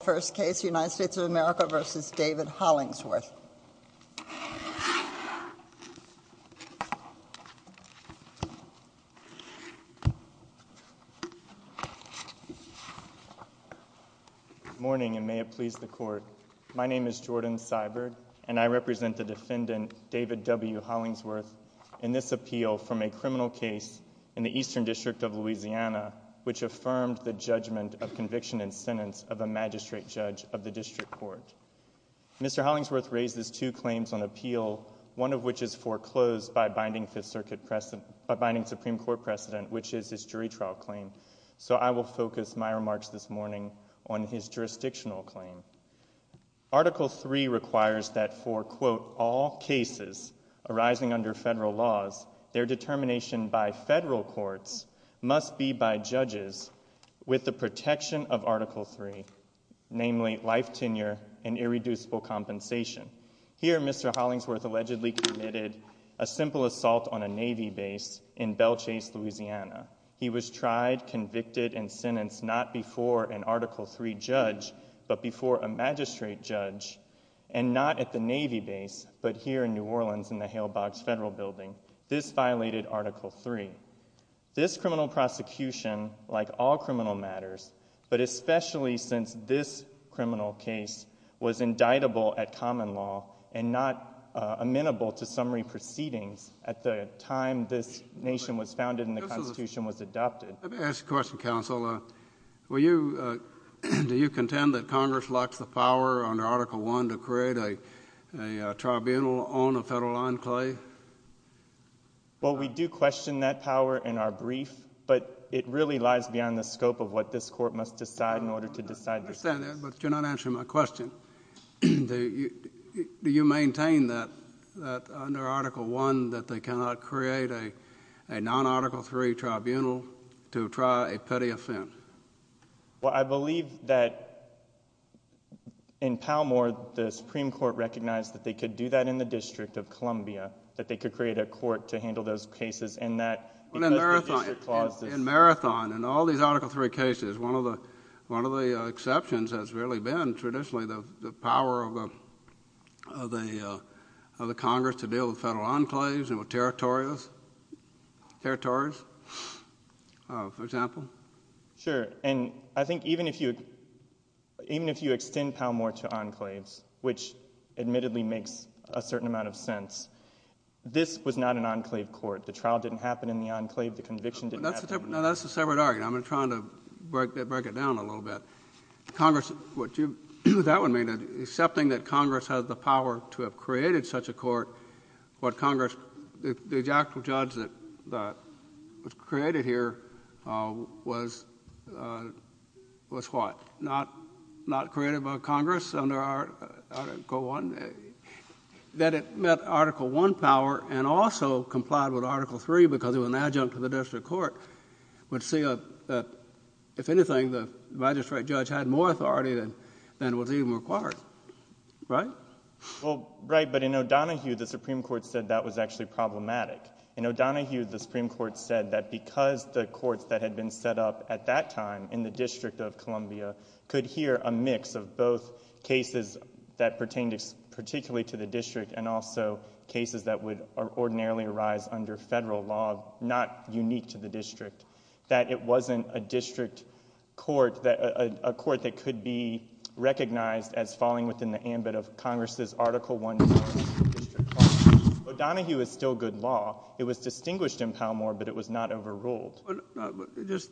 Morning, and may it please the court. My name is Jordan Seibert, and I represent the defendant, David W. Hollingsworth, in this appeal from a criminal case in the Eastern District of District Court. Mr. Hollingsworth raised his two claims on appeal, one of which is foreclosed by binding Supreme Court precedent, which is his jury trial claim. So I will focus my remarks this morning on his jurisdictional claim. Article III requires that for, quote, all cases arising under federal laws, their determination by federal courts must be by the Supreme Court. And I will focus my remarks this morning on article III, which is a violation of Article III, namely, life tenure and irreducible compensation. Here, Mr. Hollingsworth allegedly committed a simple assault on a Navy base in Belchase, Louisiana. He was tried, convicted, and sentenced not before an Article III judge, but before a magistrate judge, and not at the Navy base, but here in New Orleans, in the Hale Box Federal Building. This violated Article III. This criminal prosecution, like all criminal matters, but especially since this criminal case was indictable at common law and not amenable to summary proceedings at the time this nation was founded and the Constitution was adopted... Let me ask you a question, counsel. Do you contend that Congress lacks the power under a tribunal on a federal enclave? Well, we do question that power in our brief, but it really lies beyond the scope of what this Court must decide in order to decide... I understand that, but you're not answering my question. Do you maintain that, under Article I, that they cannot create a non-Article III tribunal to try a petty offense? Well, I believe that in Palmore, the Supreme Court recognized that they could do that in the District of Columbia, that they could create a court to handle those cases, and that... In Marathon, in all these Article III cases, one of the exceptions has really been, traditionally, the power of the Congress to deal with federal enclaves and with territories, for example. Sure. And I think even if you... even if you extend Palmore to enclaves, which admittedly makes a certain amount of sense, this was not an enclave court. The trial didn't happen in the enclave. The conviction didn't happen in the enclave. Now, that's a separate argument. I'm going to try to break it down a little bit. Congress... that would mean that, accepting that Congress has the power to have created such a court, what Congress... the actual judge that was created here was... was what? Not created by Congress under Article I? That it met Article I power and also complied with Article III because it was an adjunct to the district court would say that, if anything, the magistrate judge had more authority than was even required. Right? Well, right. But in O'Donohue, the Supreme Court said that was actually problematic. In O'Donohue, the Supreme Court said that because the courts that had been set up at that time in the District of Columbia could hear a mix of both cases that pertained particularly to the district and also cases that would ordinarily arise under federal law, not unique to the district, that it wasn't a district court... a court that could be recognized as falling within the ambit of Congress's Article I powers to the district court. O'Donohue is still good law. It was distinguished in Palmore, but it was not overruled. But... just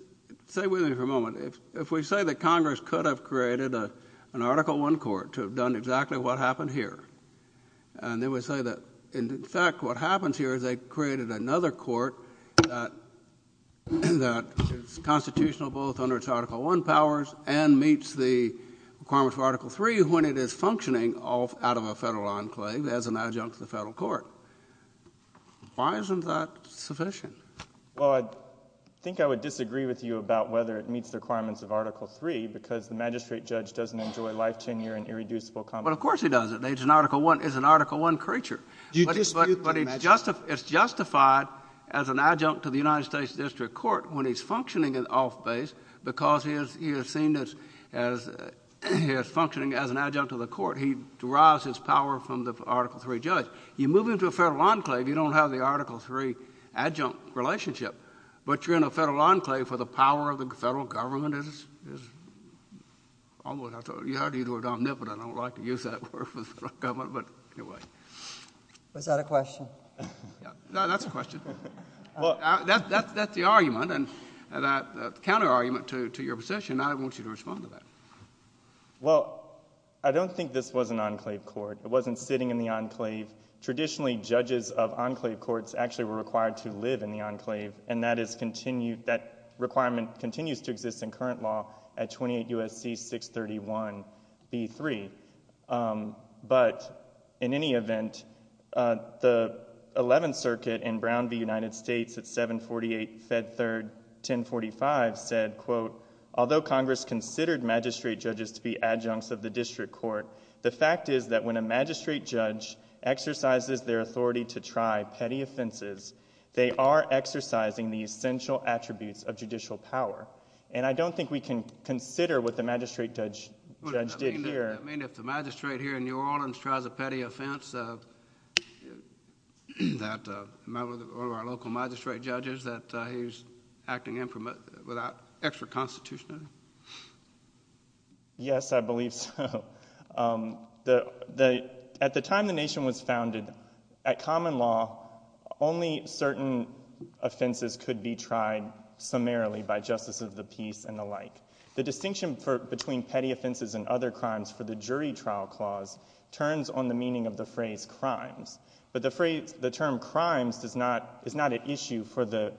stay with me for a moment. If... if we say that Congress could have created a... an Article I court to have done exactly what happened here, and then we say that, in fact, what happens here is they created another court that... that is constitutional both under its Article I powers and meets the requirements for Article III when it is functioning off... out of a federal enclave as an adjunct to the federal court, why isn't that sufficient? Well, I think I would disagree with you about whether it meets the requirements of Article III because the magistrate judge doesn't enjoy life, tenure, and irreducible... Well, of course he doesn't. It's an Article I... it's an Article I creature. Do you dispute... But it's justified as an adjunct to the United States District Court when he's functioning off base because he is... he is seen as... as... he is functioning as an adjunct to the court. He derives his power from the Article III judge. You move him to a federal enclave, you don't have the Article III adjunct relationship. But you're in a federal enclave where the power of the federal government is... is... almost... I thought you had to use the word omnipotent. I don't like to use that word for the federal government, but anyway. Was that a question? No, that's a question. That's the argument and the counter-argument to your position and I want you to respond to that. Well, I don't think this was an enclave court. It wasn't sitting in the enclave. Traditionally, judges of enclave courts actually were required to live in the enclave and that is continued... that requirement continues to exist in current law at 28 U.S.C. 631b3. But in any event, the 11th Circuit in Brown v. United States at 748 Fed 3rd 1045 said, quote, although Congress considered magistrate judges to be adjuncts of the district court, the fact is that when a magistrate judge exercises their authority to try petty offenses, they are exercising the essential attributes of judicial power. And I don't think we can consider what the magistrate judge did here... Do you have a sense that one of our local magistrate judges, that he's acting without extra constitutionality? Yes, I believe so. At the time the nation was founded, at common law, only certain offenses could be tried summarily by justice of the peace and the like. The distinction between petty offenses and other crimes for the jury trial clause turns on the meaning of the phrase crimes. But the phrase... the term crimes does not... is not an issue for the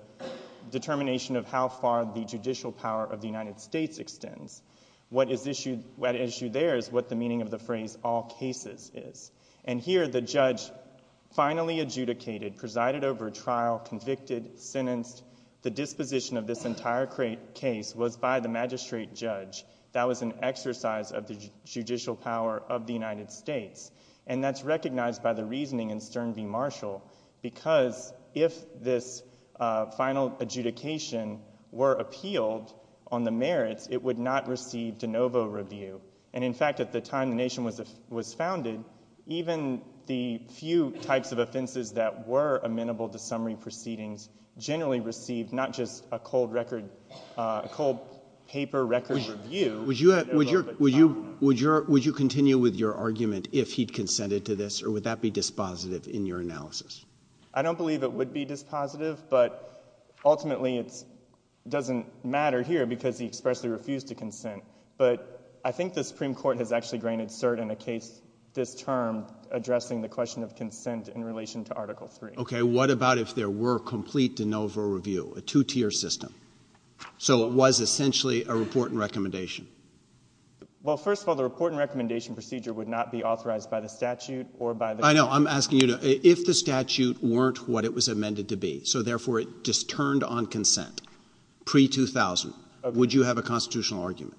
determination of how far the judicial power of the United States extends. What is issue... what issue there is what the meaning of the phrase all cases is. And here the judge finally adjudicated, presided over a trial, convicted, sentenced. The disposition of this entire case was by the magistrate judge. That was an exercise of the judicial power of the United States. And that's recognized by the reasoning in Stern v. Marshall, because if this final adjudication were appealed on the merits, it would not receive de novo review. And in fact, at the time the nation was founded, even the few types of offenses that were amenable to summary review... Would you continue with your argument if he'd consented to this, or would that be dispositive in your analysis? I don't believe it would be dispositive, but ultimately it doesn't matter here because he expressly refused to consent. But I think the Supreme Court has actually granted cert in a case this term addressing the question of consent in relation to Article III. Okay. What about if there were complete de novo review, a two-tier system? So it was essentially a report and recommendation? Well, first of all, the report and recommendation procedure would not be authorized by the statute or by the... I know. I'm asking you to... if the statute weren't what it was amended to be, so therefore it just turned on consent pre-2000, would you have a constitutional argument?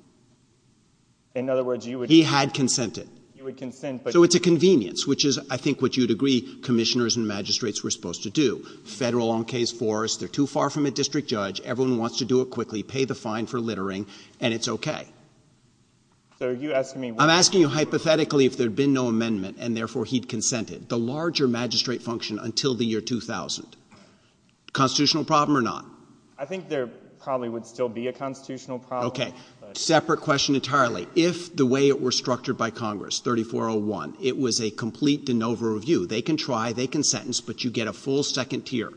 In other words, you would... He had consented. You would consent, but... So it's a convenience, which is, I think, what you'd agree commissioners and magistrates were supposed to do. Federal on case four is they're too far from a district judge. Everyone wants to do it quickly, pay the fine for littering, and it's okay. So are you asking me... I'm asking you hypothetically if there had been no amendment and therefore he'd consented. The larger magistrate function until the year 2000. Constitutional problem or not? I think there probably would still be a constitutional problem. Okay. Separate question entirely. If the way it were structured by Congress, 3401, it was a complete de novo review. They can try, they can sentence, but you get a full second tier.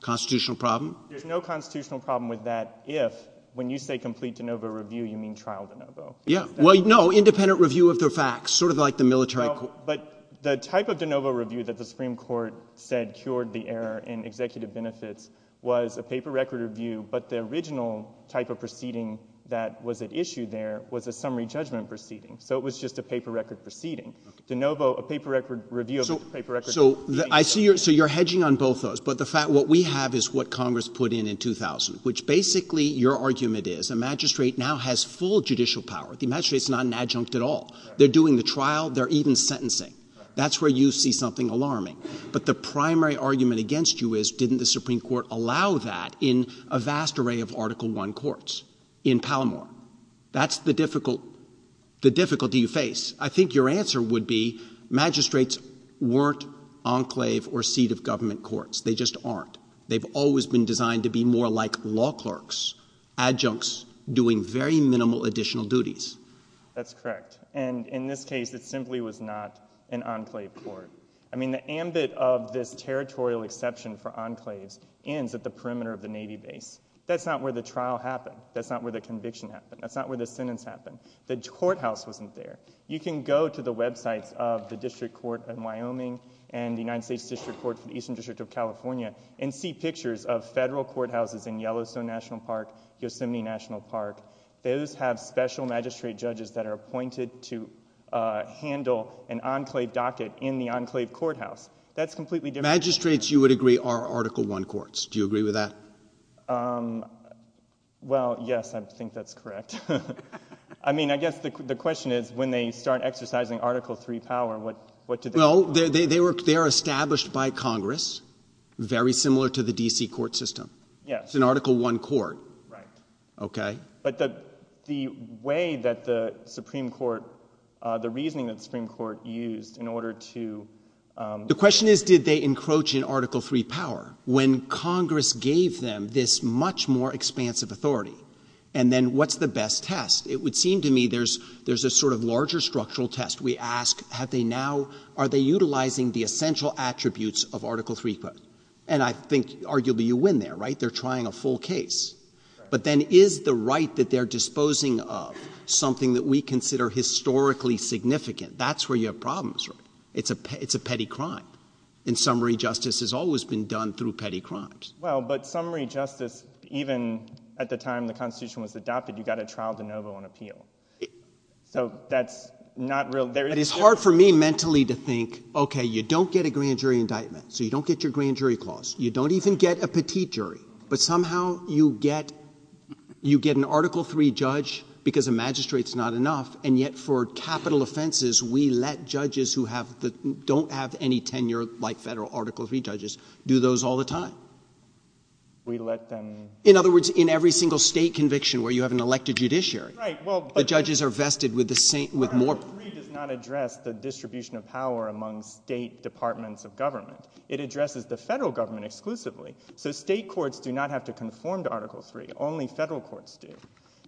Constitutional problem? There's no constitutional problem with that if, when you say complete de novo review, you mean trial de novo. Yeah. Well, no, independent review of the facts, sort of like the military... Well, but the type of de novo review that the Supreme Court said cured the error in executive benefits was a paper record review, but the original type of proceeding that was at issue there was a summary judgment proceeding. So it was just a paper record proceeding. Okay. De novo, a paper record review of a paper record... So you're hedging on both of those, but the fact, what we have is what Congress put in in 2000, which basically your argument is a magistrate now has full judicial power. The magistrate's not an adjunct at all. They're doing the trial. They're even sentencing. That's where you see something alarming. But the primary argument against you is didn't the Supreme Court allow that in a vast array of Article I courts in Palomar? That's the difficult, the difficulty you face. I think your answer would be magistrates weren't enclave or seat of government courts. They just aren't. They've always been designed to be more like law clerks, adjuncts doing very minimal additional duties. That's correct. And in this case, it simply was not an enclave court. I mean the ambit of this territorial exception for enclaves ends at the perimeter of the Navy base. That's not where the trial happened. That's not where the conviction happened. That's not where the sentence happened. The courthouse wasn't there. You can go to the websites of the District Court in Wyoming and the United States District Court for the Eastern District of California and see pictures of federal courthouses in Yellowstone National Park, Yosemite National Park. Those have special magistrate judges that are appointed to handle an enclave docket in the enclave courthouse. That's completely different. Magistrates you would agree are Article I courts. Do you agree with that? Well, yes, I think that's correct. I mean, I guess the question is when they start exercising Article III power, what do they do? Well, they are established by Congress, very similar to the DC court system. It's an Article I court. Right. Okay. But the way that the Supreme Court, the reasoning that the Supreme Court used in order to The question is did they encroach in Article III power when Congress gave them this much more expansive authority? And then what's the best test? It would seem to me there's a sort of larger structural test. We ask have they now, are they utilizing the essential attributes of Article III? And I think arguably you win there, right? They're trying a full case. Right. But then is the right that they're disposing of something that we consider historically significant? That's where your problems are. It's a, it's a petty crime. In summary, justice has always been done through petty crimes. Well, but summary justice, even at the time the constitution was adopted, you got a trial de novo on appeal. So that's not real. It is hard for me mentally to think, okay, you don't get a grand jury indictment. So you don't get your grand jury clause. You don't even get a petite jury, but somehow you get, you get an Article III judge because a magistrate's not enough. And yet for capital offenses, we let judges who have the, don't have any tenure like federal Article III judges do those all the time. We let them. In other words, in every single state conviction where you have an elected judiciary. Right. The judges are vested with the same, with more. Article III does not address the distribution of power among state departments of government. It addresses the federal government exclusively. So state courts do not have to conform to Article III, only federal courts do.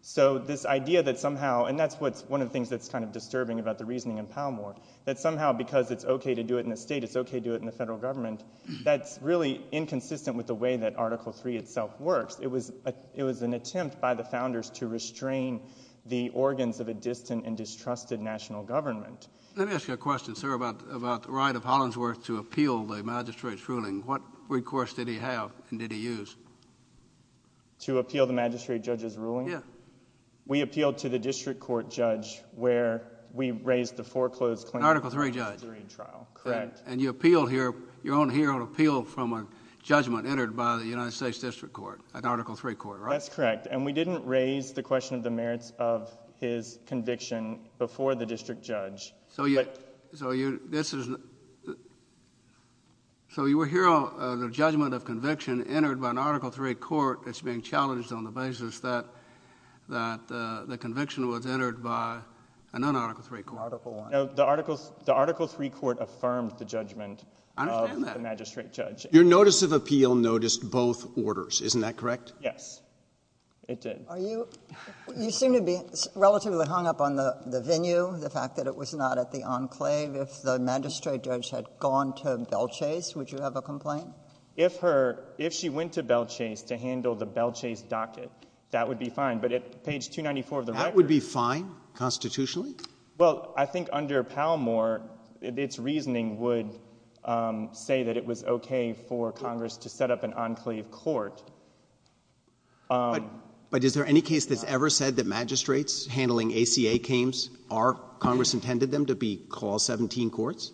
So this idea that somehow, and that's what's one of the things that's kind of disturbing about the reasoning in Palmore, that somehow because it's okay to do it in the state, it's okay to do it in the federal government. That's really inconsistent with the way that Article III itself works. It was a, it was an attempt by the founders to restrain the organs of a distant and distrusted national government. Let me ask you a question, sir, about, about the right of Hollingsworth to appeal the magistrate's ruling. What recourse did he have and did he use? To appeal the magistrate judge's ruling? Yeah. We appealed to the district court judge where we raised the foreclosed claim. Article III judge. Article III trial. Correct. And you appealed here, you're on here on appeal from a judgment entered by the United States District Court, an Article III court, right? That's correct. And we didn't raise the question of the merits of his conviction before the trial. So you, so you, this is, so you were here on the judgment of conviction entered by an Article III court that's being challenged on the basis that, that the conviction was entered by a non-Article III court. Article I. No, the Article, the Article III court affirmed the judgment of the magistrate judge. Your notice of appeal noticed both orders, isn't that correct? Yes, it did. Are you, you seem to be relatively hung up on the, the venue, the fact that it was not at the enclave. If the magistrate judge had gone to Belchase, would you have a complaint? If her, if she went to Belchase to handle the Belchase docket, that would be fine. But at page 294 of the record. That would be fine constitutionally? Well, I think under Palmore, its reasoning would say that it was okay for Congress to set up an enclave court. But, but is there any case that's ever said that magistrates handling ACA cames are, Congress intended them to be Clause 17 courts?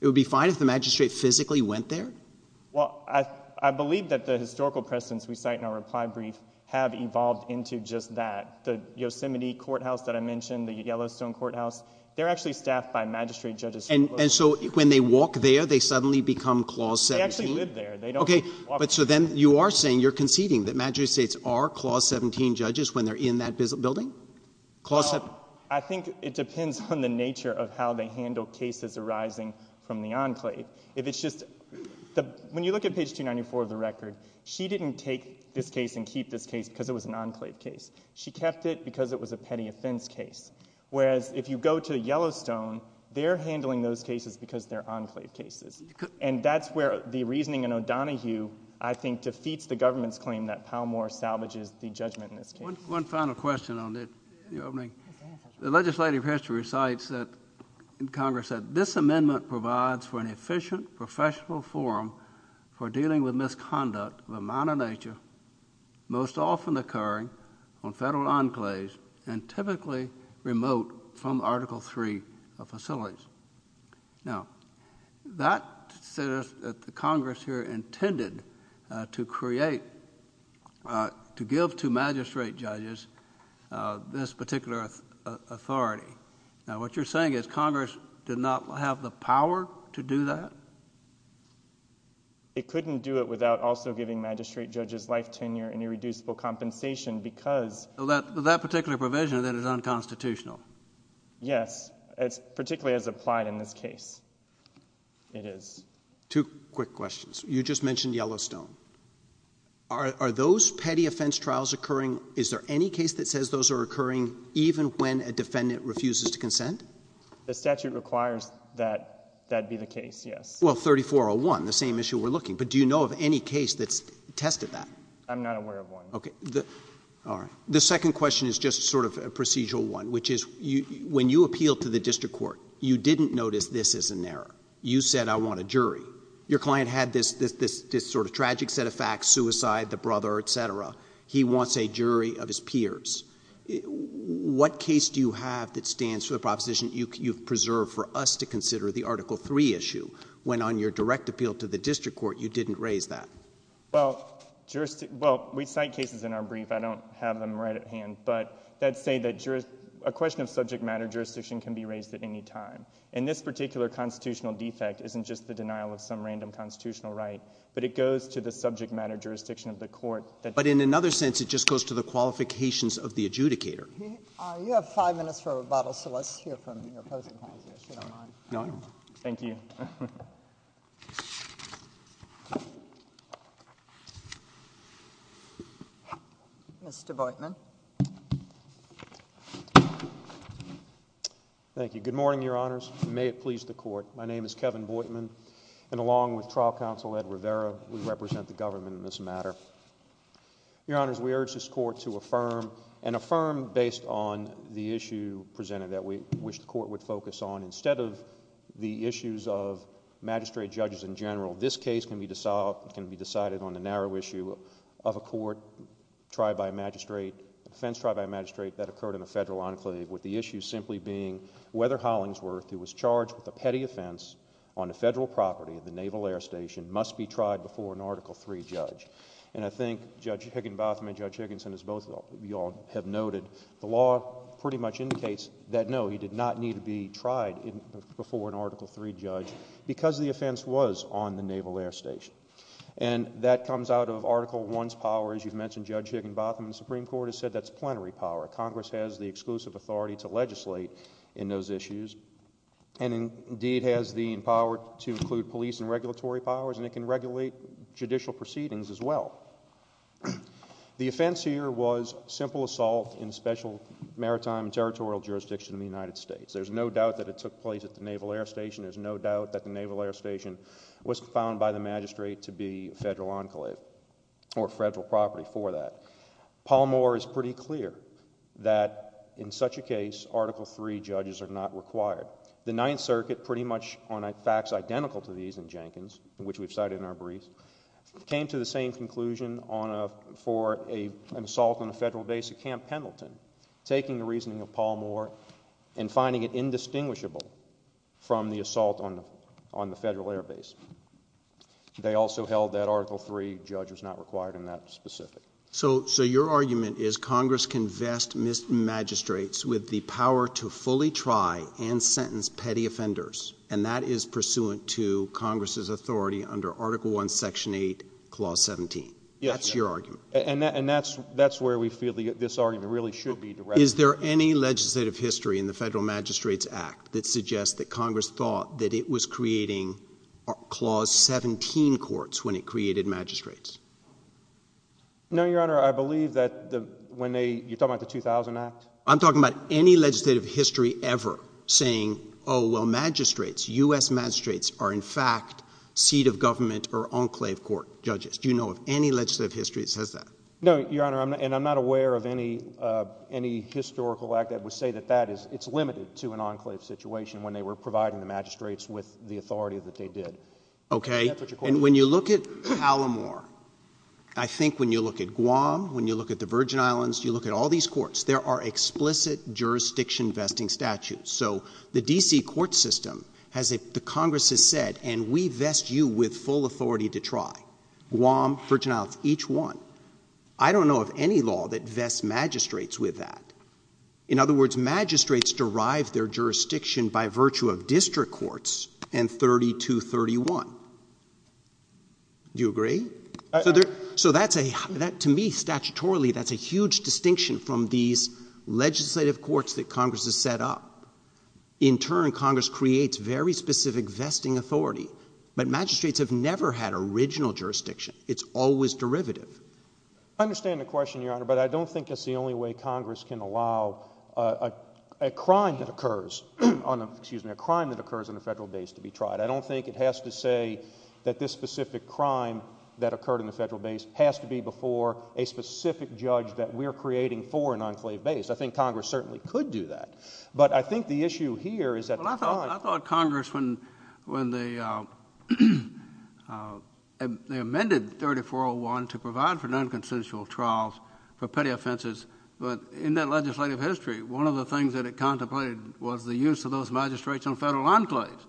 It would be fine if the magistrate physically went there? Well, I, I believe that the historical precedents we cite in our reply brief have evolved into just that. The Yosemite courthouse that I mentioned, the Yellowstone courthouse, they're actually staffed by magistrate judges. And so when they walk there, they suddenly become Clause 17? They actually live there. Okay. But so then you are saying, you're conceding that magistrates are Clause 17 judges when they're in that building? Well, I think it depends on the nature of how they handle cases arising from the enclave. If it's just, when you look at page 294 of the record, she didn't take this case and keep this case because it was an enclave case. She kept it because it was a petty offense case. Whereas if you go to Yellowstone, they're handling those cases because they're enclave cases. And that's where the reasoning in O'Donohue, I think, defeats the government's claim that Palmore salvages the judgment in this case. One final question on the opening. The legislative history recites that Congress said, this amendment provides for an efficient, professional forum for dealing with misconduct of a minor nature, most often occurring on federal enclaves and typically remote from Article III facilities. Now, that says that the Congress here intended to create, to give to magistrate judges this particular authority. Now, what you're saying is Congress did not have the power to do that? It couldn't do it without also giving magistrate judges life tenure and irreducible compensation because Well, that particular provision then is unconstitutional. Yes. It's particularly as applied in this case. It is. Two quick questions. You just mentioned Yellowstone. Are those petty offense trials occurring? Is there any case that says those are occurring even when a defendant refuses to consent? The statute requires that that be the case, yes. Well, 3401, the same issue we're looking. But do you know of any case that's tested that? I'm not aware of one. Okay. The second question is just sort of a procedural one, which is when you appealed to the district court, you didn't notice this is an error. You said, I want a jury. Your client had this sort of tragic set of facts, suicide, the brother, et cetera. He wants a jury of his peers. What case do you have that stands for the proposition you've preserved for us to consider the Article III issue when on your direct appeal to the district court you didn't raise that? Well, we cite cases in our brief. I don't have them right at hand. But that's saying that a question of subject matter jurisdiction can be raised at any time. And this particular constitutional defect isn't just the denial of some random constitutional right, but it goes to the subject matter jurisdiction of the court. But in another sense, it just goes to the qualifications of the adjudicator. You have five minutes for rebuttal, so let's hear from your opposing counsel if you don't mind. Thank you. Mr. Boitman. Thank you. Good morning, Your Honors. May it please the Court. My name is Kevin Boitman, and along with Trial Counsel Ed Rivera, we represent the government in this matter. Your Honors, we urge this Court to affirm, and affirm based on the issue presented that we wish the Court would focus on, instead of the issues of magistrate judges in general. This case can be decided on the narrow issue of a court tried by a magistrate, offense tried by a magistrate that occurred in a federal enclave, with the issue simply being whether Hollingsworth, who was charged with a petty offense on the federal property of the Naval Air Station, must be tried before an Article III judge. And I think Judge Higginbotham and Judge Higginson, as both of you all have noted, the law pretty much indicates that, no, he did not need to be tried before an Article III judge because the offense was on the Naval Air Station. And that comes out of Article I's power, as you've mentioned, Judge Higginbotham. The Supreme Court has said that's plenary power. Congress has the exclusive authority to legislate in those issues, and indeed has the power to include police and regulatory powers, and it can regulate judicial proceedings as well. The offense here was simple assault in special maritime and territorial jurisdiction in the United States. There's no doubt that it took place at the Naval Air Station. There's no doubt that the Naval Air Station was found by the magistrate to be a federal enclave or federal property for that. Paul Moore is pretty clear that, in such a case, Article III judges are not required. The Ninth Circuit, pretty much on facts identical to these in Jenkins, which we've cited in our briefs, came to the same conclusion for an assault on a federal base at Camp Pendleton, taking the reasoning of Paul Moore and finding it indistinguishable from the assault on the federal air base. They also held that Article III judge was not required in that specific. So your argument is Congress can vest magistrates with the power to fully try and sentence petty offenders, and that is pursuant to Congress's authority under Article I, Section 8, Clause 17. That's your argument. And that's where we feel this argument really should be directed. Is there any legislative history in the Federal Magistrates Act that suggests that Congress thought that it was creating Clause 17 courts when it created magistrates? No, Your Honor. I believe that when they, you're talking about the 2000 Act? I'm talking about any legislative history ever saying, oh, well, magistrates, U.S. magistrates are in fact seat of government or enclave court judges. Do you know of any legislative history that says that? No, Your Honor, and I'm not aware of any historical act that would say that that is, it's limited to an enclave situation when they were providing the magistrates with the authority that they did. Okay. That's what your question is. And when you look at Alamore, I think when you look at Guam, when you look at the Virgin Islands, you look at all these courts, there are explicit jurisdiction vesting statutes. So the D.C. court system has, the Congress has said, and we vest you with full authority to try. Guam, Virgin Islands, each one. I don't know of any law that vests magistrates with that. In other words, magistrates derive their jurisdiction by virtue of district courts and 3231. Do you agree? So that's a, to me, statutorily, that's a huge distinction from these legislative courts that Congress has set up. In turn, Congress creates very specific vesting authority, but it's original jurisdiction. It's always derivative. I understand the question, Your Honor, but I don't think that's the only way Congress can allow a crime that occurs on a, excuse me, a crime that occurs on a federal base to be tried. I don't think it has to say that this specific crime that occurred on the federal base has to be before a specific judge that we're creating for an enclave base. I think Congress certainly could do that. But I think the issue here is that Well, I thought Congress, when they amended 3401 to provide for non-consensual trials for petty offenses, but in that legislative history, one of the things that it contemplated was the use of those magistrates on federal enclaves.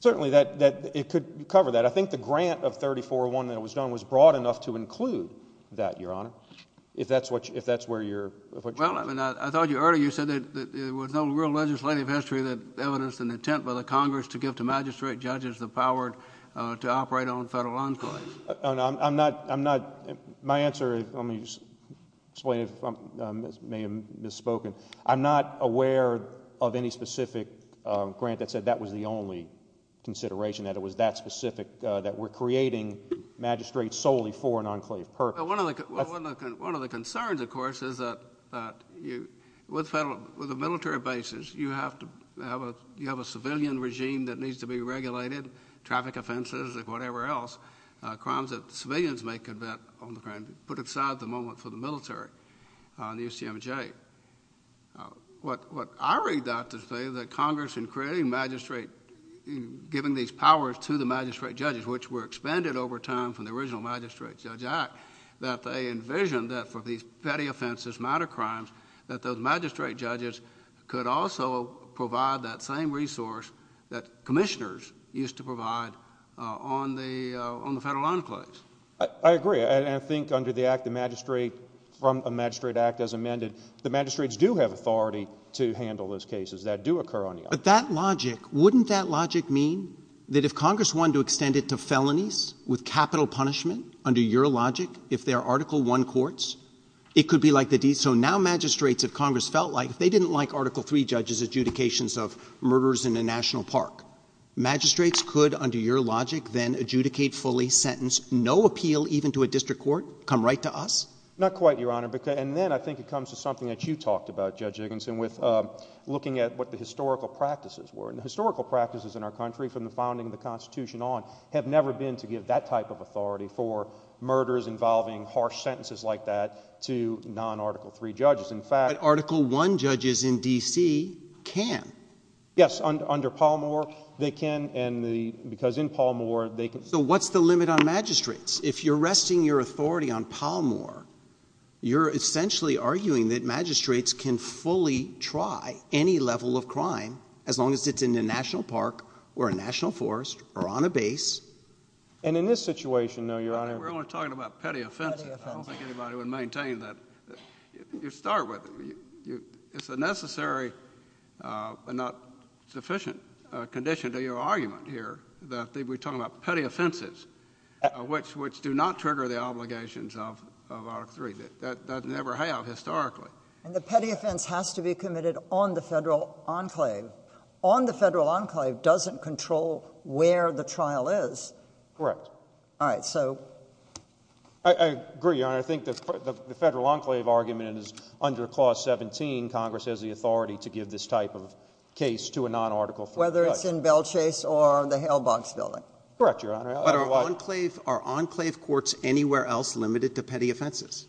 Certainly that, it could cover that. I think the grant of 3401 that was done was broad enough to include that, Your Honor, if that's what, if that's where you're, if what you're Well, I mean, I told you earlier, you said that there was no real legislative history that evidenced an intent by the Congress to give to magistrate judges the power to operate on federal enclaves. I'm not, I'm not, my answer is, let me just explain if I may have misspoken. I'm not aware of any specific grant that said that was the only consideration, that it was that specific, that we're creating magistrates solely for an enclave purpose. Well, one of the, one of the concerns, of course, is that, that you, with federal, with federal, you have a civilian regime that needs to be regulated, traffic offenses, whatever else, crimes that civilians may commit on the ground, put aside the moment for the military and the UCMJ. What I read out to say is that Congress, in creating magistrate, in giving these powers to the magistrate judges, which were expanded over time from the original Magistrate Judge Act, that they envisioned that for these petty offenses, minor crimes, that those magistrate judges could also provide that same resource that commissioners used to provide on the, on the federal enclaves. I, I agree, and I think under the act, the magistrate, from a magistrate act as amended, the magistrates do have authority to handle those cases that do occur on the island. But that logic, wouldn't that logic mean that if Congress wanted to extend it to felonies with capital punishment, under your logic, if there are Article I courts, it could be like the, so now magistrates, if Congress felt like, if they didn't like Article III judges' adjudications of murders in a national park, magistrates could, under your logic, then adjudicate fully, sentence, no appeal even to a district court, come right to us? Not quite, Your Honor. And then I think it comes to something that you talked about, Judge Dickinson, with looking at what the historical practices were. And the historical practices in our country, from the founding of the Constitution on, have never been to give that type of authority for murders involving harsh sentences like that to non-Article III judges. In fact— But Article I judges in D.C. can. Yes, under Pallmore, they can, and the, because in Pallmore, they can— So what's the limit on magistrates? If you're resting your authority on Pallmore, you're essentially arguing that magistrates can fully try any level of crime, as long as it's in a national park, or a national forest, or on a base. And in this situation, though, Your Honor— We're only talking about petty offenses. Petty offenses. I don't think anybody would maintain that. You start with, it's a necessary, but not sufficient, condition to your argument here that we're talking about petty offenses, which do not trigger the obligations of Article III. That never have, historically. And the petty offense has to be committed on the federal enclave. On the federal enclave doesn't control where the trial is. Correct. All right, so— I agree, Your Honor. I think the federal enclave argument is under Clause 17, Congress has the authority to give this type of case to a non-Article III judge. Whether it's in Belchase or the Hale Boggs Building. Correct, Your Honor. But are enclave courts anywhere else limited to petty offenses?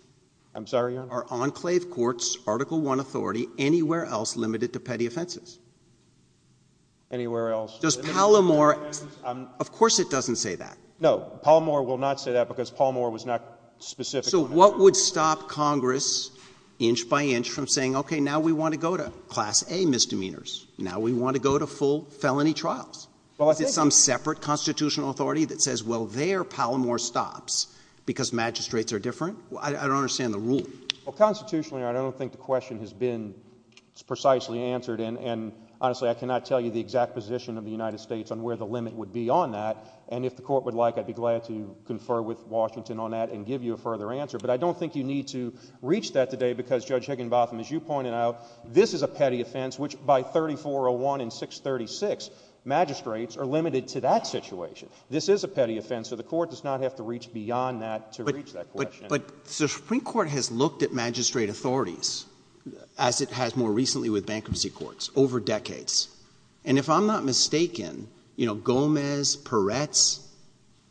I'm sorry, Your Honor? Are enclave courts, Article I authority, anywhere else limited to petty offenses? Anywhere else— Does Pallmore— Of course it doesn't say that. No, Pallmore will not say that because Pallmore was not specific— So what would stop Congress, inch by inch, from saying, okay, now we want to go to Class A misdemeanors? Now we want to go to full felony trials? Well, I think— Is it some separate constitutional authority that says, well, there Pallmore stops because magistrates are different? I don't understand the rule. Well, constitutionally, I don't think the question has been precisely answered. And honestly, I cannot tell you the exact position of the United States on where the limit would be on that. And if the Court would like, I'd be glad to confer with Washington on that and give you a further answer. But I don't think you need to reach that today because, Judge Higginbotham, as you pointed out, this is a petty offense, which by 3401 and 636, magistrates are limited to that situation. This is a petty offense, so the Court does not have to reach beyond that to reach that question. But the Supreme Court has looked at magistrate authorities, as it has more recently with bankruptcy courts, over decades. And if I'm not mistaken, you know, Gomez, Peretz,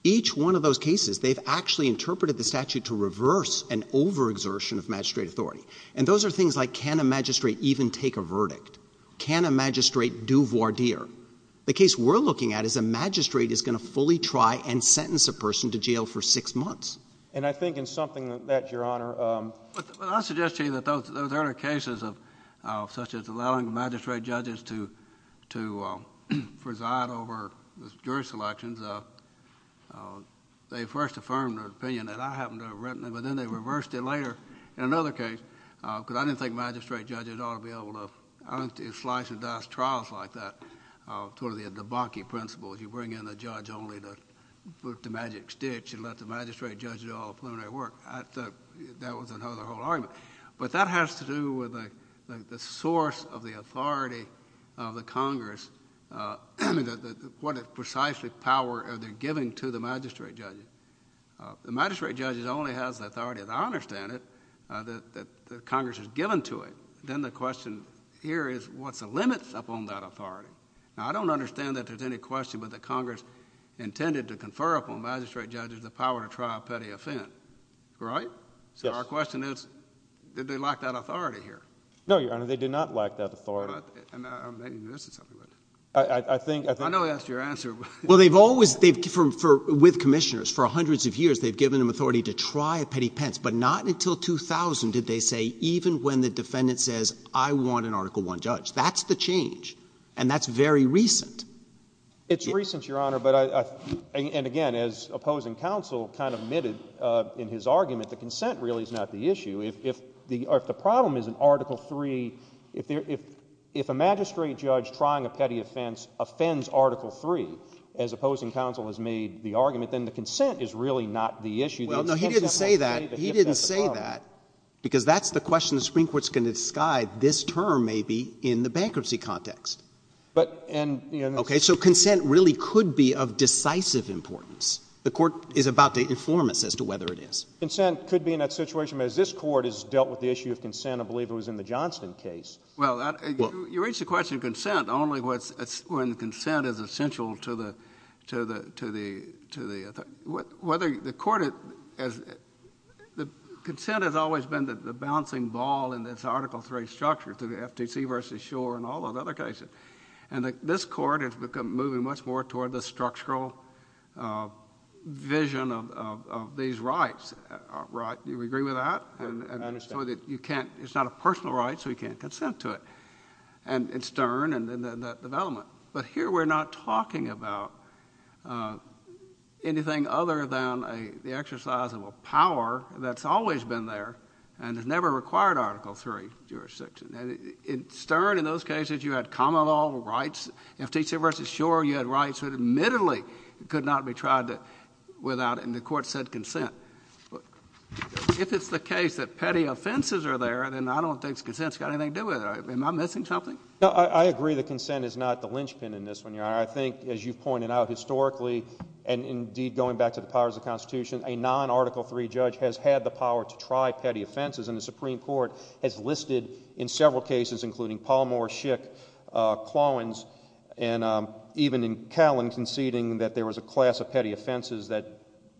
each one of those cases, they've actually interpreted the statute to reverse an overexertion of magistrate authority. And those are things like can a magistrate even take a verdict? Can a magistrate do voir dire? The case we're looking at is a magistrate is going to fully try and sentence a person to jail for six months. And I think in something that, Your Honor— Well, I suggest to you that those earlier cases, such as allowing magistrate judges to preside over jury selections, they first affirmed an opinion that I happened to have written, but then they reversed it later in another case because I didn't think magistrate judges ought to be able to slice and dice trials like that. It's one of the debunking principles. You bring in a judge only to put the magic stitch and let the magistrate judge do all the preliminary work. That was the whole argument. But that has to do with the source of the authority of the Congress and what precisely power they're giving to the magistrate judges. The magistrate judge only has the authority, and I understand it, that Congress has given to it. Then the question here is what's the limits upon that authority? Now, I don't understand that there's any question but that Congress intended to confer upon magistrate judges the power to try a petty offense, right? Yes. So our question is, did they lack that authority here? No, Your Honor, they did not lack that authority. I'm making a mistake. I think— I know that's your answer. Well, they've always—they've—for—with commissioners, for hundreds of years, they've given them authority to try a petty offense, but not until 2000 did they say, even when the defendant says, I want an Article I judge. That's the change. It's recent, Your Honor, but I—and again, it's very recent. And as opposing counsel kind of admitted in his argument, the consent really is not the issue. If the—or if the problem is in Article III, if a magistrate judge trying a petty offense offends Article III, as opposing counsel has made the argument, then the consent is really not the issue. Well, no. He didn't say that. He didn't say that because that's the question the Supreme Court's going to describe this term maybe in the bankruptcy context. But— Okay. So consent really could be of decisive importance. The Court is about to inform us as to whether it is. Consent could be in that situation. I mean, as this Court has dealt with the issue of consent, I believe it was in the Johnston case. Well, that— Well— You raised the question of consent only when consent is essential to the—to the—to the—to the—whether the Court has—the consent has always been the bouncing ball in this Article III structure, through the FTC versus Schor and all those other cases. And the—this Court has become—moving much more toward the structural vision of—of these rights. Right? Do you agree with that? I understand. And so that you can't—it's not a personal right, so you can't consent to it. And it's stern in that development. But here we're not talking about anything other than a—the exercise of a power that's always been there and has never required Article III jurisdiction. And it's stern in those cases you had common law rights. In FTC versus Schor, you had rights that admittedly could not be tried to—without—and the Court said consent. If it's the case that petty offenses are there, then I don't think consent's got anything to do with it. Am I missing something? No. I—I agree that consent is not the linchpin in this one, Your Honor. I think, as you've pointed out, historically, and indeed going back to the powers of the Constitution, a non-Article III judge has had the power to try petty offenses, and the Paul Moore, Schick, Clowens, and even in Callen conceding that there was a class of petty offenses that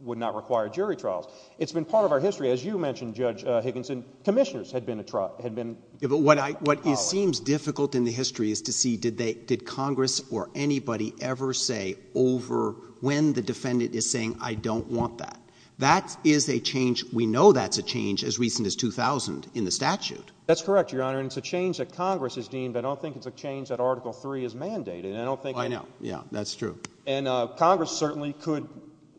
would not require jury trials. It's been part of our history. As you mentioned, Judge Higginson, commissioners had been a trial—had been a power. Yeah, but what I—what seems difficult in the history is to see did they—did Congress or anybody ever say over when the defendant is saying, I don't want that? That is a change—we know that's a change as recent as 2000 in the statute. That's correct, Your Honor. And it's a change that Congress has deemed, but I don't think it's a change that Article III has mandated. And I don't think— Why not? Yeah, that's true. And Congress certainly could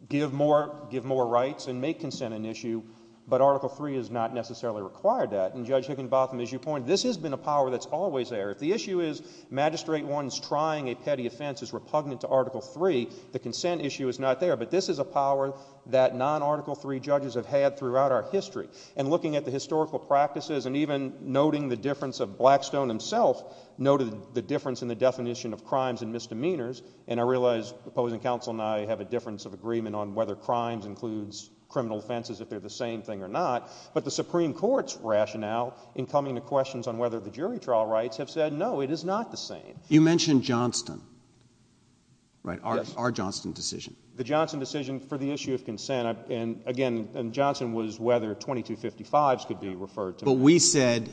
give more—give more rights and make consent an issue, but Article III has not necessarily required that. And Judge Higginbotham, as you pointed, this has been a power that's always there. If the issue is magistrate wants trying a petty offense is repugnant to Article III, the consent issue is not there. But this is a power that non-Article III judges have had throughout our history. And looking at the historical practices and even noting the difference of—Blackstone himself noted the difference in the definition of crimes and misdemeanors. And I realize opposing counsel and I have a difference of agreement on whether crimes includes criminal offenses, if they're the same thing or not. But the Supreme Court's rationale in coming to questions on whether the jury trial rights have said, no, it is not the same. You mentioned Johnston, right, our Johnston decision. The Johnston decision for the issue of consent. And again, and Johnston was whether 2255s could be referred to. But we said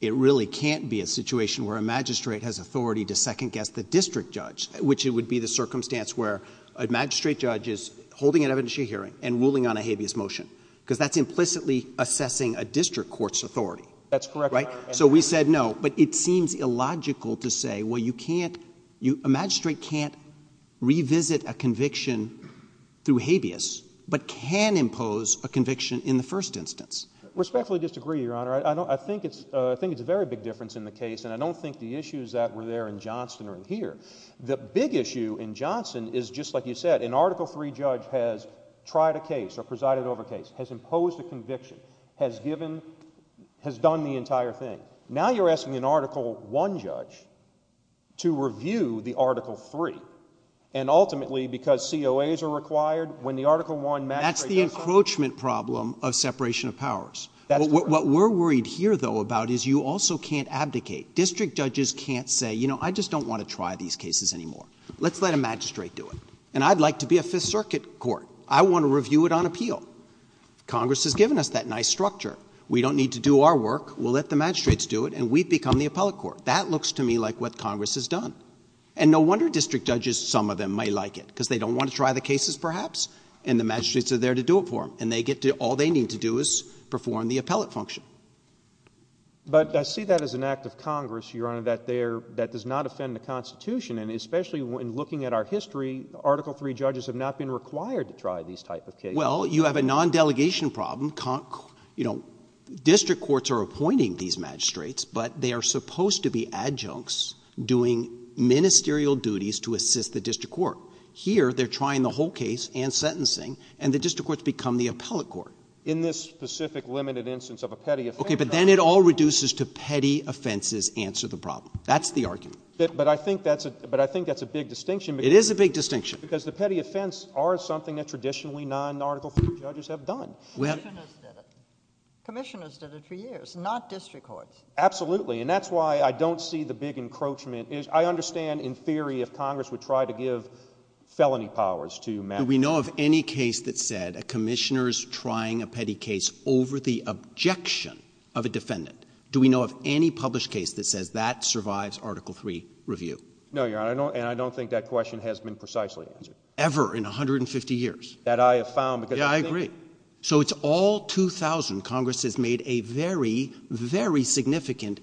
it really can't be a situation where a magistrate has authority to second guess the district judge, which it would be the circumstance where a magistrate judge is holding an evidentiary hearing and ruling on a habeas motion because that's implicitly assessing a district court's authority. That's correct. Right? So we said no. But it seems illogical to say, well, you can't—a magistrate can't revisit a conviction through habeas, but can impose a conviction in the first instance. Respectfully disagree, Your Honor. I think it's a very big difference in the case and I don't think the issues that were there in Johnston are in here. The big issue in Johnston is just like you said, an Article III judge has tried a case or presided over a case, has imposed a conviction, has given—has done the entire thing. Now you're asking an Article I judge to review the Article III. And ultimately, because COAs are required, when the Article I magistrate— That's the encroachment problem of separation of powers. What we're worried here, though, about is you also can't abdicate. District judges can't say, you know, I just don't want to try these cases anymore. Let's let a magistrate do it. And I'd like to be a Fifth Circuit court. I want to review it on appeal. Congress has given us that nice structure. We don't need to do our work. We'll let the magistrates do it and we've become the appellate court. That looks to me like what Congress has done. And no wonder district judges, some of them, might like it, because they don't want to try the cases, perhaps, and the magistrates are there to do it for them. And they get to—all they need to do is perform the appellate function. But I see that as an act of Congress, Your Honor, that they're—that does not offend the Constitution. And especially when looking at our history, Article III judges have not been required to try these type of cases. Well, you have a non-delegation problem. You know, district courts are appointing these magistrates, but they are supposed to be adjuncts doing ministerial duties to assist the district court. Here, they're trying the whole case and sentencing, and the district courts become the appellate court. In this specific limited instance of a petty offense— Okay, but then it all reduces to petty offenses answer the problem. That's the argument. But I think that's a—but I think that's a big distinction. It is a big distinction. Because the petty offense are something that traditionally non-Article III judges have done. Commissioners did it. Commissioners did it for years, not district courts. Absolutely. And that's why I don't see the big encroachment. I understand, in theory, if Congress would try to give felony powers to— Do we know of any case that said a commissioner's trying a petty case over the objection of a defendant? Do we know of any published case that says that survives Article III review? No, Your Honor, and I don't think that question has been precisely answered. Ever in 150 years? That I have found, because— Yeah, I agree. So it's all 2000. Congress has made a very, very significant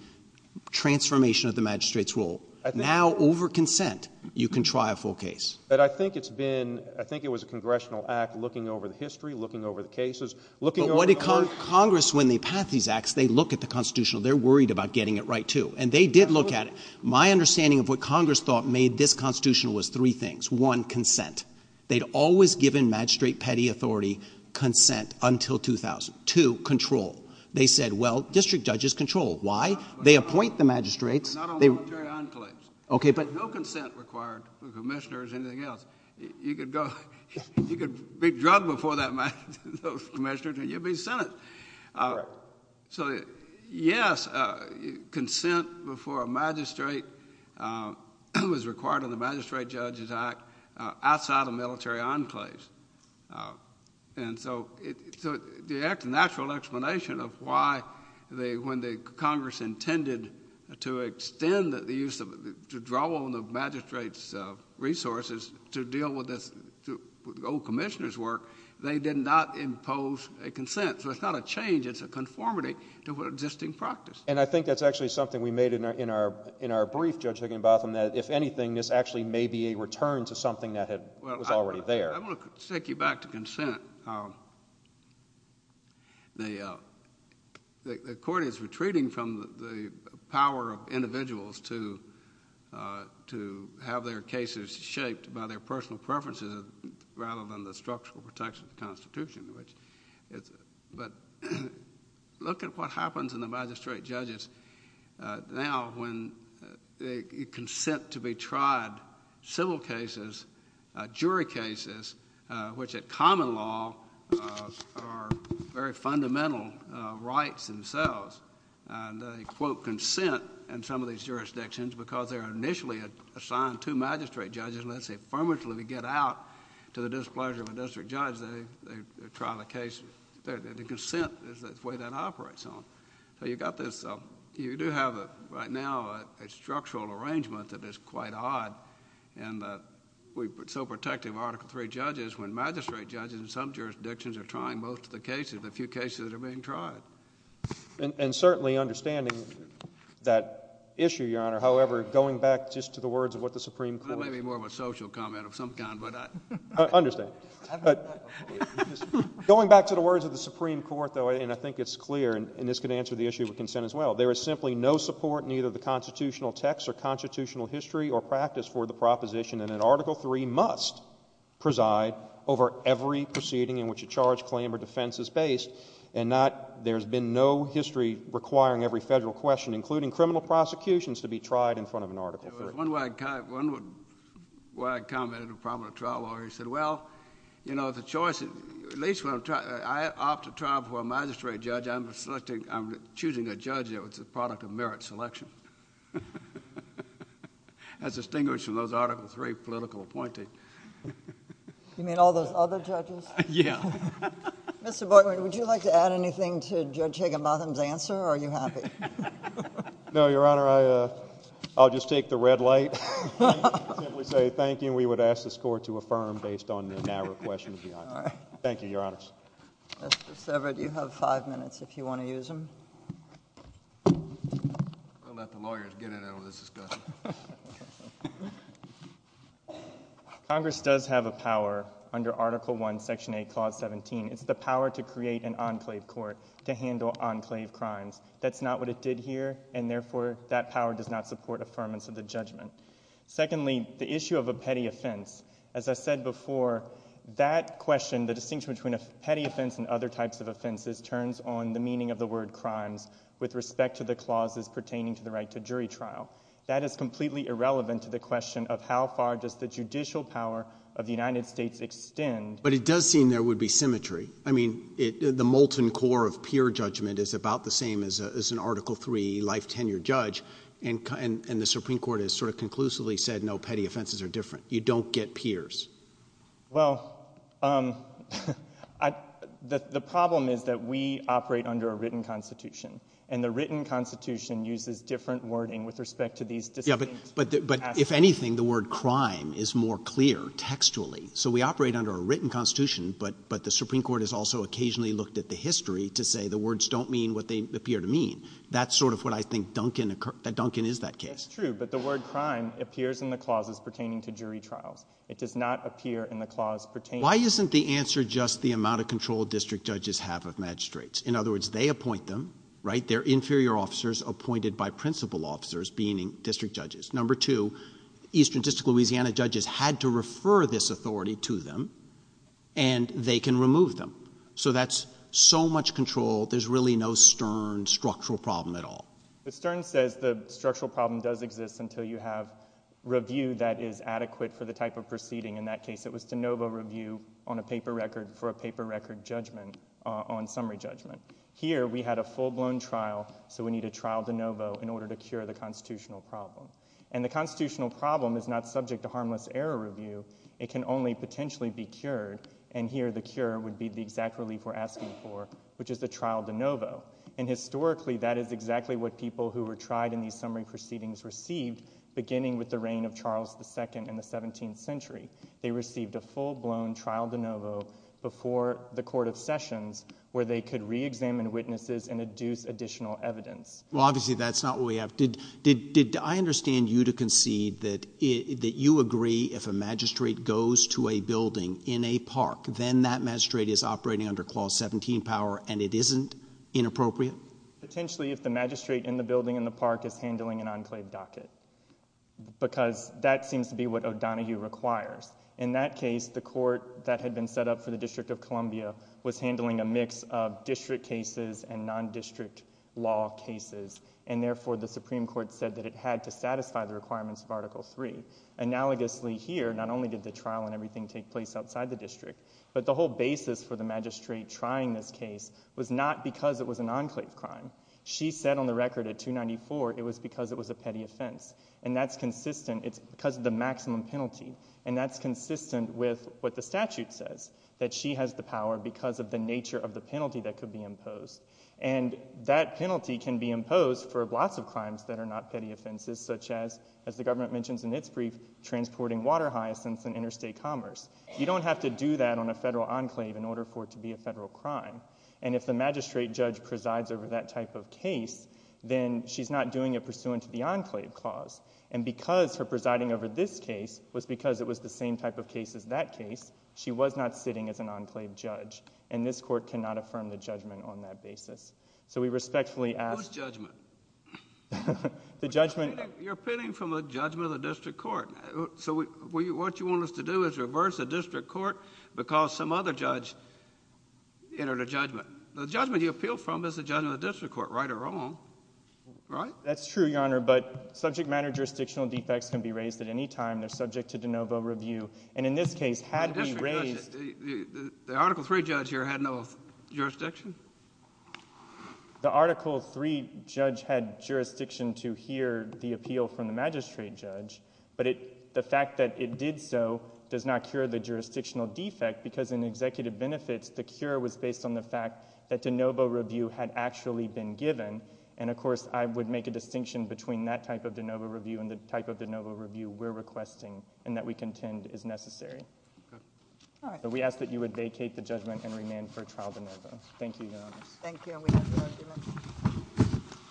transformation of the magistrate's rule. Now, over consent, you can try a full case. But I think it's been—I think it was a congressional act looking over the history, looking over the cases, looking over the— Congress, when they pass these acts, they look at the Constitutional. They're worried about getting it right, too. And they did look at it. My understanding of what Congress thought made this Constitutional was three things. One, consent. They'd always given magistrate petty authority consent until 2000. Two, control. They said, well, district judges control. Why? They appoint the magistrates. But not on military enclaves. OK, but— No consent required for commissioners or anything else. You could go—you could be drugged before those commissioners, and you'd be sentenced. So, yes, consent before a magistrate was required on the Magistrate Judges Act outside a military enclave. And so the actual explanation of why they—when the Congress intended to extend the use of—to draw on the magistrate's resources to deal with this old commissioner's work, they did not impose a consent. So it's not a change. It's a conformity to existing practice. And I think that's actually something we made in our brief, Judge Higginbotham, that if anything, this actually may be a return to something that was already there. Well, I want to take you back to consent. The Court is retreating from the power of individuals to have their cases shaped by their personal preferences rather than the structural protection of the Constitution. But look at what happens in the magistrate judges now when they consent to be tried civil cases, jury cases, which at common law are very fundamental rights themselves. And they quote consent in some of these jurisdictions because they're initially assigned to magistrate judges. Let's say, affirmatively, we get out to the displeasure of a district judge, they try the case, the consent is the way that operates on. So you've got this—you do have, right now, a structural arrangement that is quite odd in that we're so protective of Article III judges when magistrate judges in some jurisdictions are trying most of the cases, the few cases that are being tried. And certainly understanding that issue, Your Honor. However, going back just to the words of what the Supreme Court— That may be more of a social comment of some kind, but I— Understand. Going back to the words of the Supreme Court, though, and I think it's clear, and this could answer the issue of consent as well, there is simply no support in either the constitutional text or constitutional history or practice for the proposition that an Article III must preside over every proceeding in which a charge, claim, or defense is based. And there's been no history requiring every federal question, including criminal prosecutions, to be tried in front of an Article III. One way I can comment on the problem of the trial lawyer, he said, well, you know, the choice—at least when I'm trying—I opt to trial for a magistrate judge, I'm selecting—I'm choosing a judge that was a product of merit selection. That's distinguished from those Article III political appointees. You mean all those other judges? Yeah. Mr. Bortman, would you like to add anything to Judge Higginbotham's answer, or are you happy? No, Your Honor, I'll just take the red light, simply say thank you, and we would ask this Court to affirm based on the narrow questions. Thank you, Your Honors. Justice Everett, you have five minutes if you want to use them. I'll let the lawyers get in on this discussion. Congress does have a power under Article I, Section 8, Clause 17. It's the power to create an enclave court to handle enclave crimes. That's not what it did here, and therefore, that power does not support affirmance of the judgment. Secondly, the issue of a petty offense. As I said before, that question, the distinction between a petty offense and other types of offenses, turns on the meaning of the word crimes with respect to the clauses pertaining to the right to jury trial. That is completely irrelevant to the question of how far does the judicial power of the United States extend— But it does seem there would be symmetry. I mean, the molten core of peer judgment is about the same as an Article III life tenure judge, and the Supreme Court has sort of conclusively said, no, petty offenses are different. You don't get peers. Well, the problem is that we operate under a written Constitution, and the written Constitution uses different wording with respect to these distinct— Yeah, but if anything, the word crime is more clear textually. So we operate under a written Constitution, but the Supreme Court has also occasionally looked at the history to say the words don't mean what they appear to mean. That's sort of what I think Duncan—Duncan is that case. That's true, but the word crime appears in the clauses pertaining to jury trials. It does not appear in the clause pertaining— Why isn't the answer just the amount of control district judges have of magistrates? In other words, they appoint them, right? They're inferior officers appointed by principal officers, meaning district judges. Number two, eastern district Louisiana judges had to refer this authority to them, and they can remove them. So that's so much control. There's really no stern structural problem at all. But Stern says the structural problem does exist until you have review that is adequate for the type of proceeding. In that case, it was de novo review on a paper record for a paper record judgment on summary judgment. Here, we had a full-blown trial, so we need a trial de novo in order to cure the constitutional problem. And the constitutional problem is not subject to harmless error review. It can only potentially be cured, and here the cure would be the exact relief we're asking for, which is the trial de novo. And historically, that is exactly what people who were tried in these summary proceedings received beginning with the reign of Charles II in the 17th century. They received a full-blown trial de novo before the Court of Sessions where they could re-examine witnesses and deduce additional evidence. Well, obviously, that's not what we have. Did I understand you to concede that you agree if a magistrate goes to a building in a park, then that magistrate is operating under Clause 17 power and it isn't inappropriate? Potentially, if the magistrate in the building in the park is handling an enclave docket, because that seems to be what O'Donohue requires. In that case, the court that had been set up for the District of Columbia was handling a mix of district cases and non-district law cases, and therefore, the Supreme Court said that it had to satisfy the requirements of Article III. Analogously here, not only did the trial and everything take place outside the district, but the whole basis for the magistrate trying this case was not because it was an enclave crime. She said on the record at 294 it was because it was a petty offense, and that's consistent. It's because of the maximum penalty, and that's consistent with what the statute says, that she has the power because of the nature of the penalty that could be imposed, and that penalty can be imposed for lots of crimes that are not petty offenses, such as, as the government mentions in its brief, transporting water hyacinths in interstate commerce. You don't have to do that on a federal enclave in order for it to be a federal crime, and if the magistrate judge presides over that type of case, then she's not doing it pursuant to the enclave clause, and because her presiding over this case was because it was the same type of case as that case, she was not sitting as an enclave judge, and this court cannot affirm the judgment on that basis. So we respectfully ask— Whose judgment? The judgment— You're appealing from the judgment of the district court. So what you want us to do is reverse the district court because some other judge entered a judgment. The judgment you appealed from is the judgment of the district court, right or wrong, right? That's true, Your Honor, but subject matter jurisdictional defects can be raised at any time. They're subject to de novo review, and in this case, had we raised— The district judge, the Article III judge here had no jurisdiction? The Article III judge had jurisdiction to hear the appeal from the magistrate judge, but the fact that it did so does not cure the jurisdictional defect because in executive benefits, the cure was based on the fact that de novo review had actually been given, and of course, I would make a distinction between that type of de novo review and the type of de novo review we're requesting and that we contend is necessary. Good. All right. So we ask that you would vacate the judgment and remain for trial de novo. Thank you, Your Honor. Thank you, and we have the argument.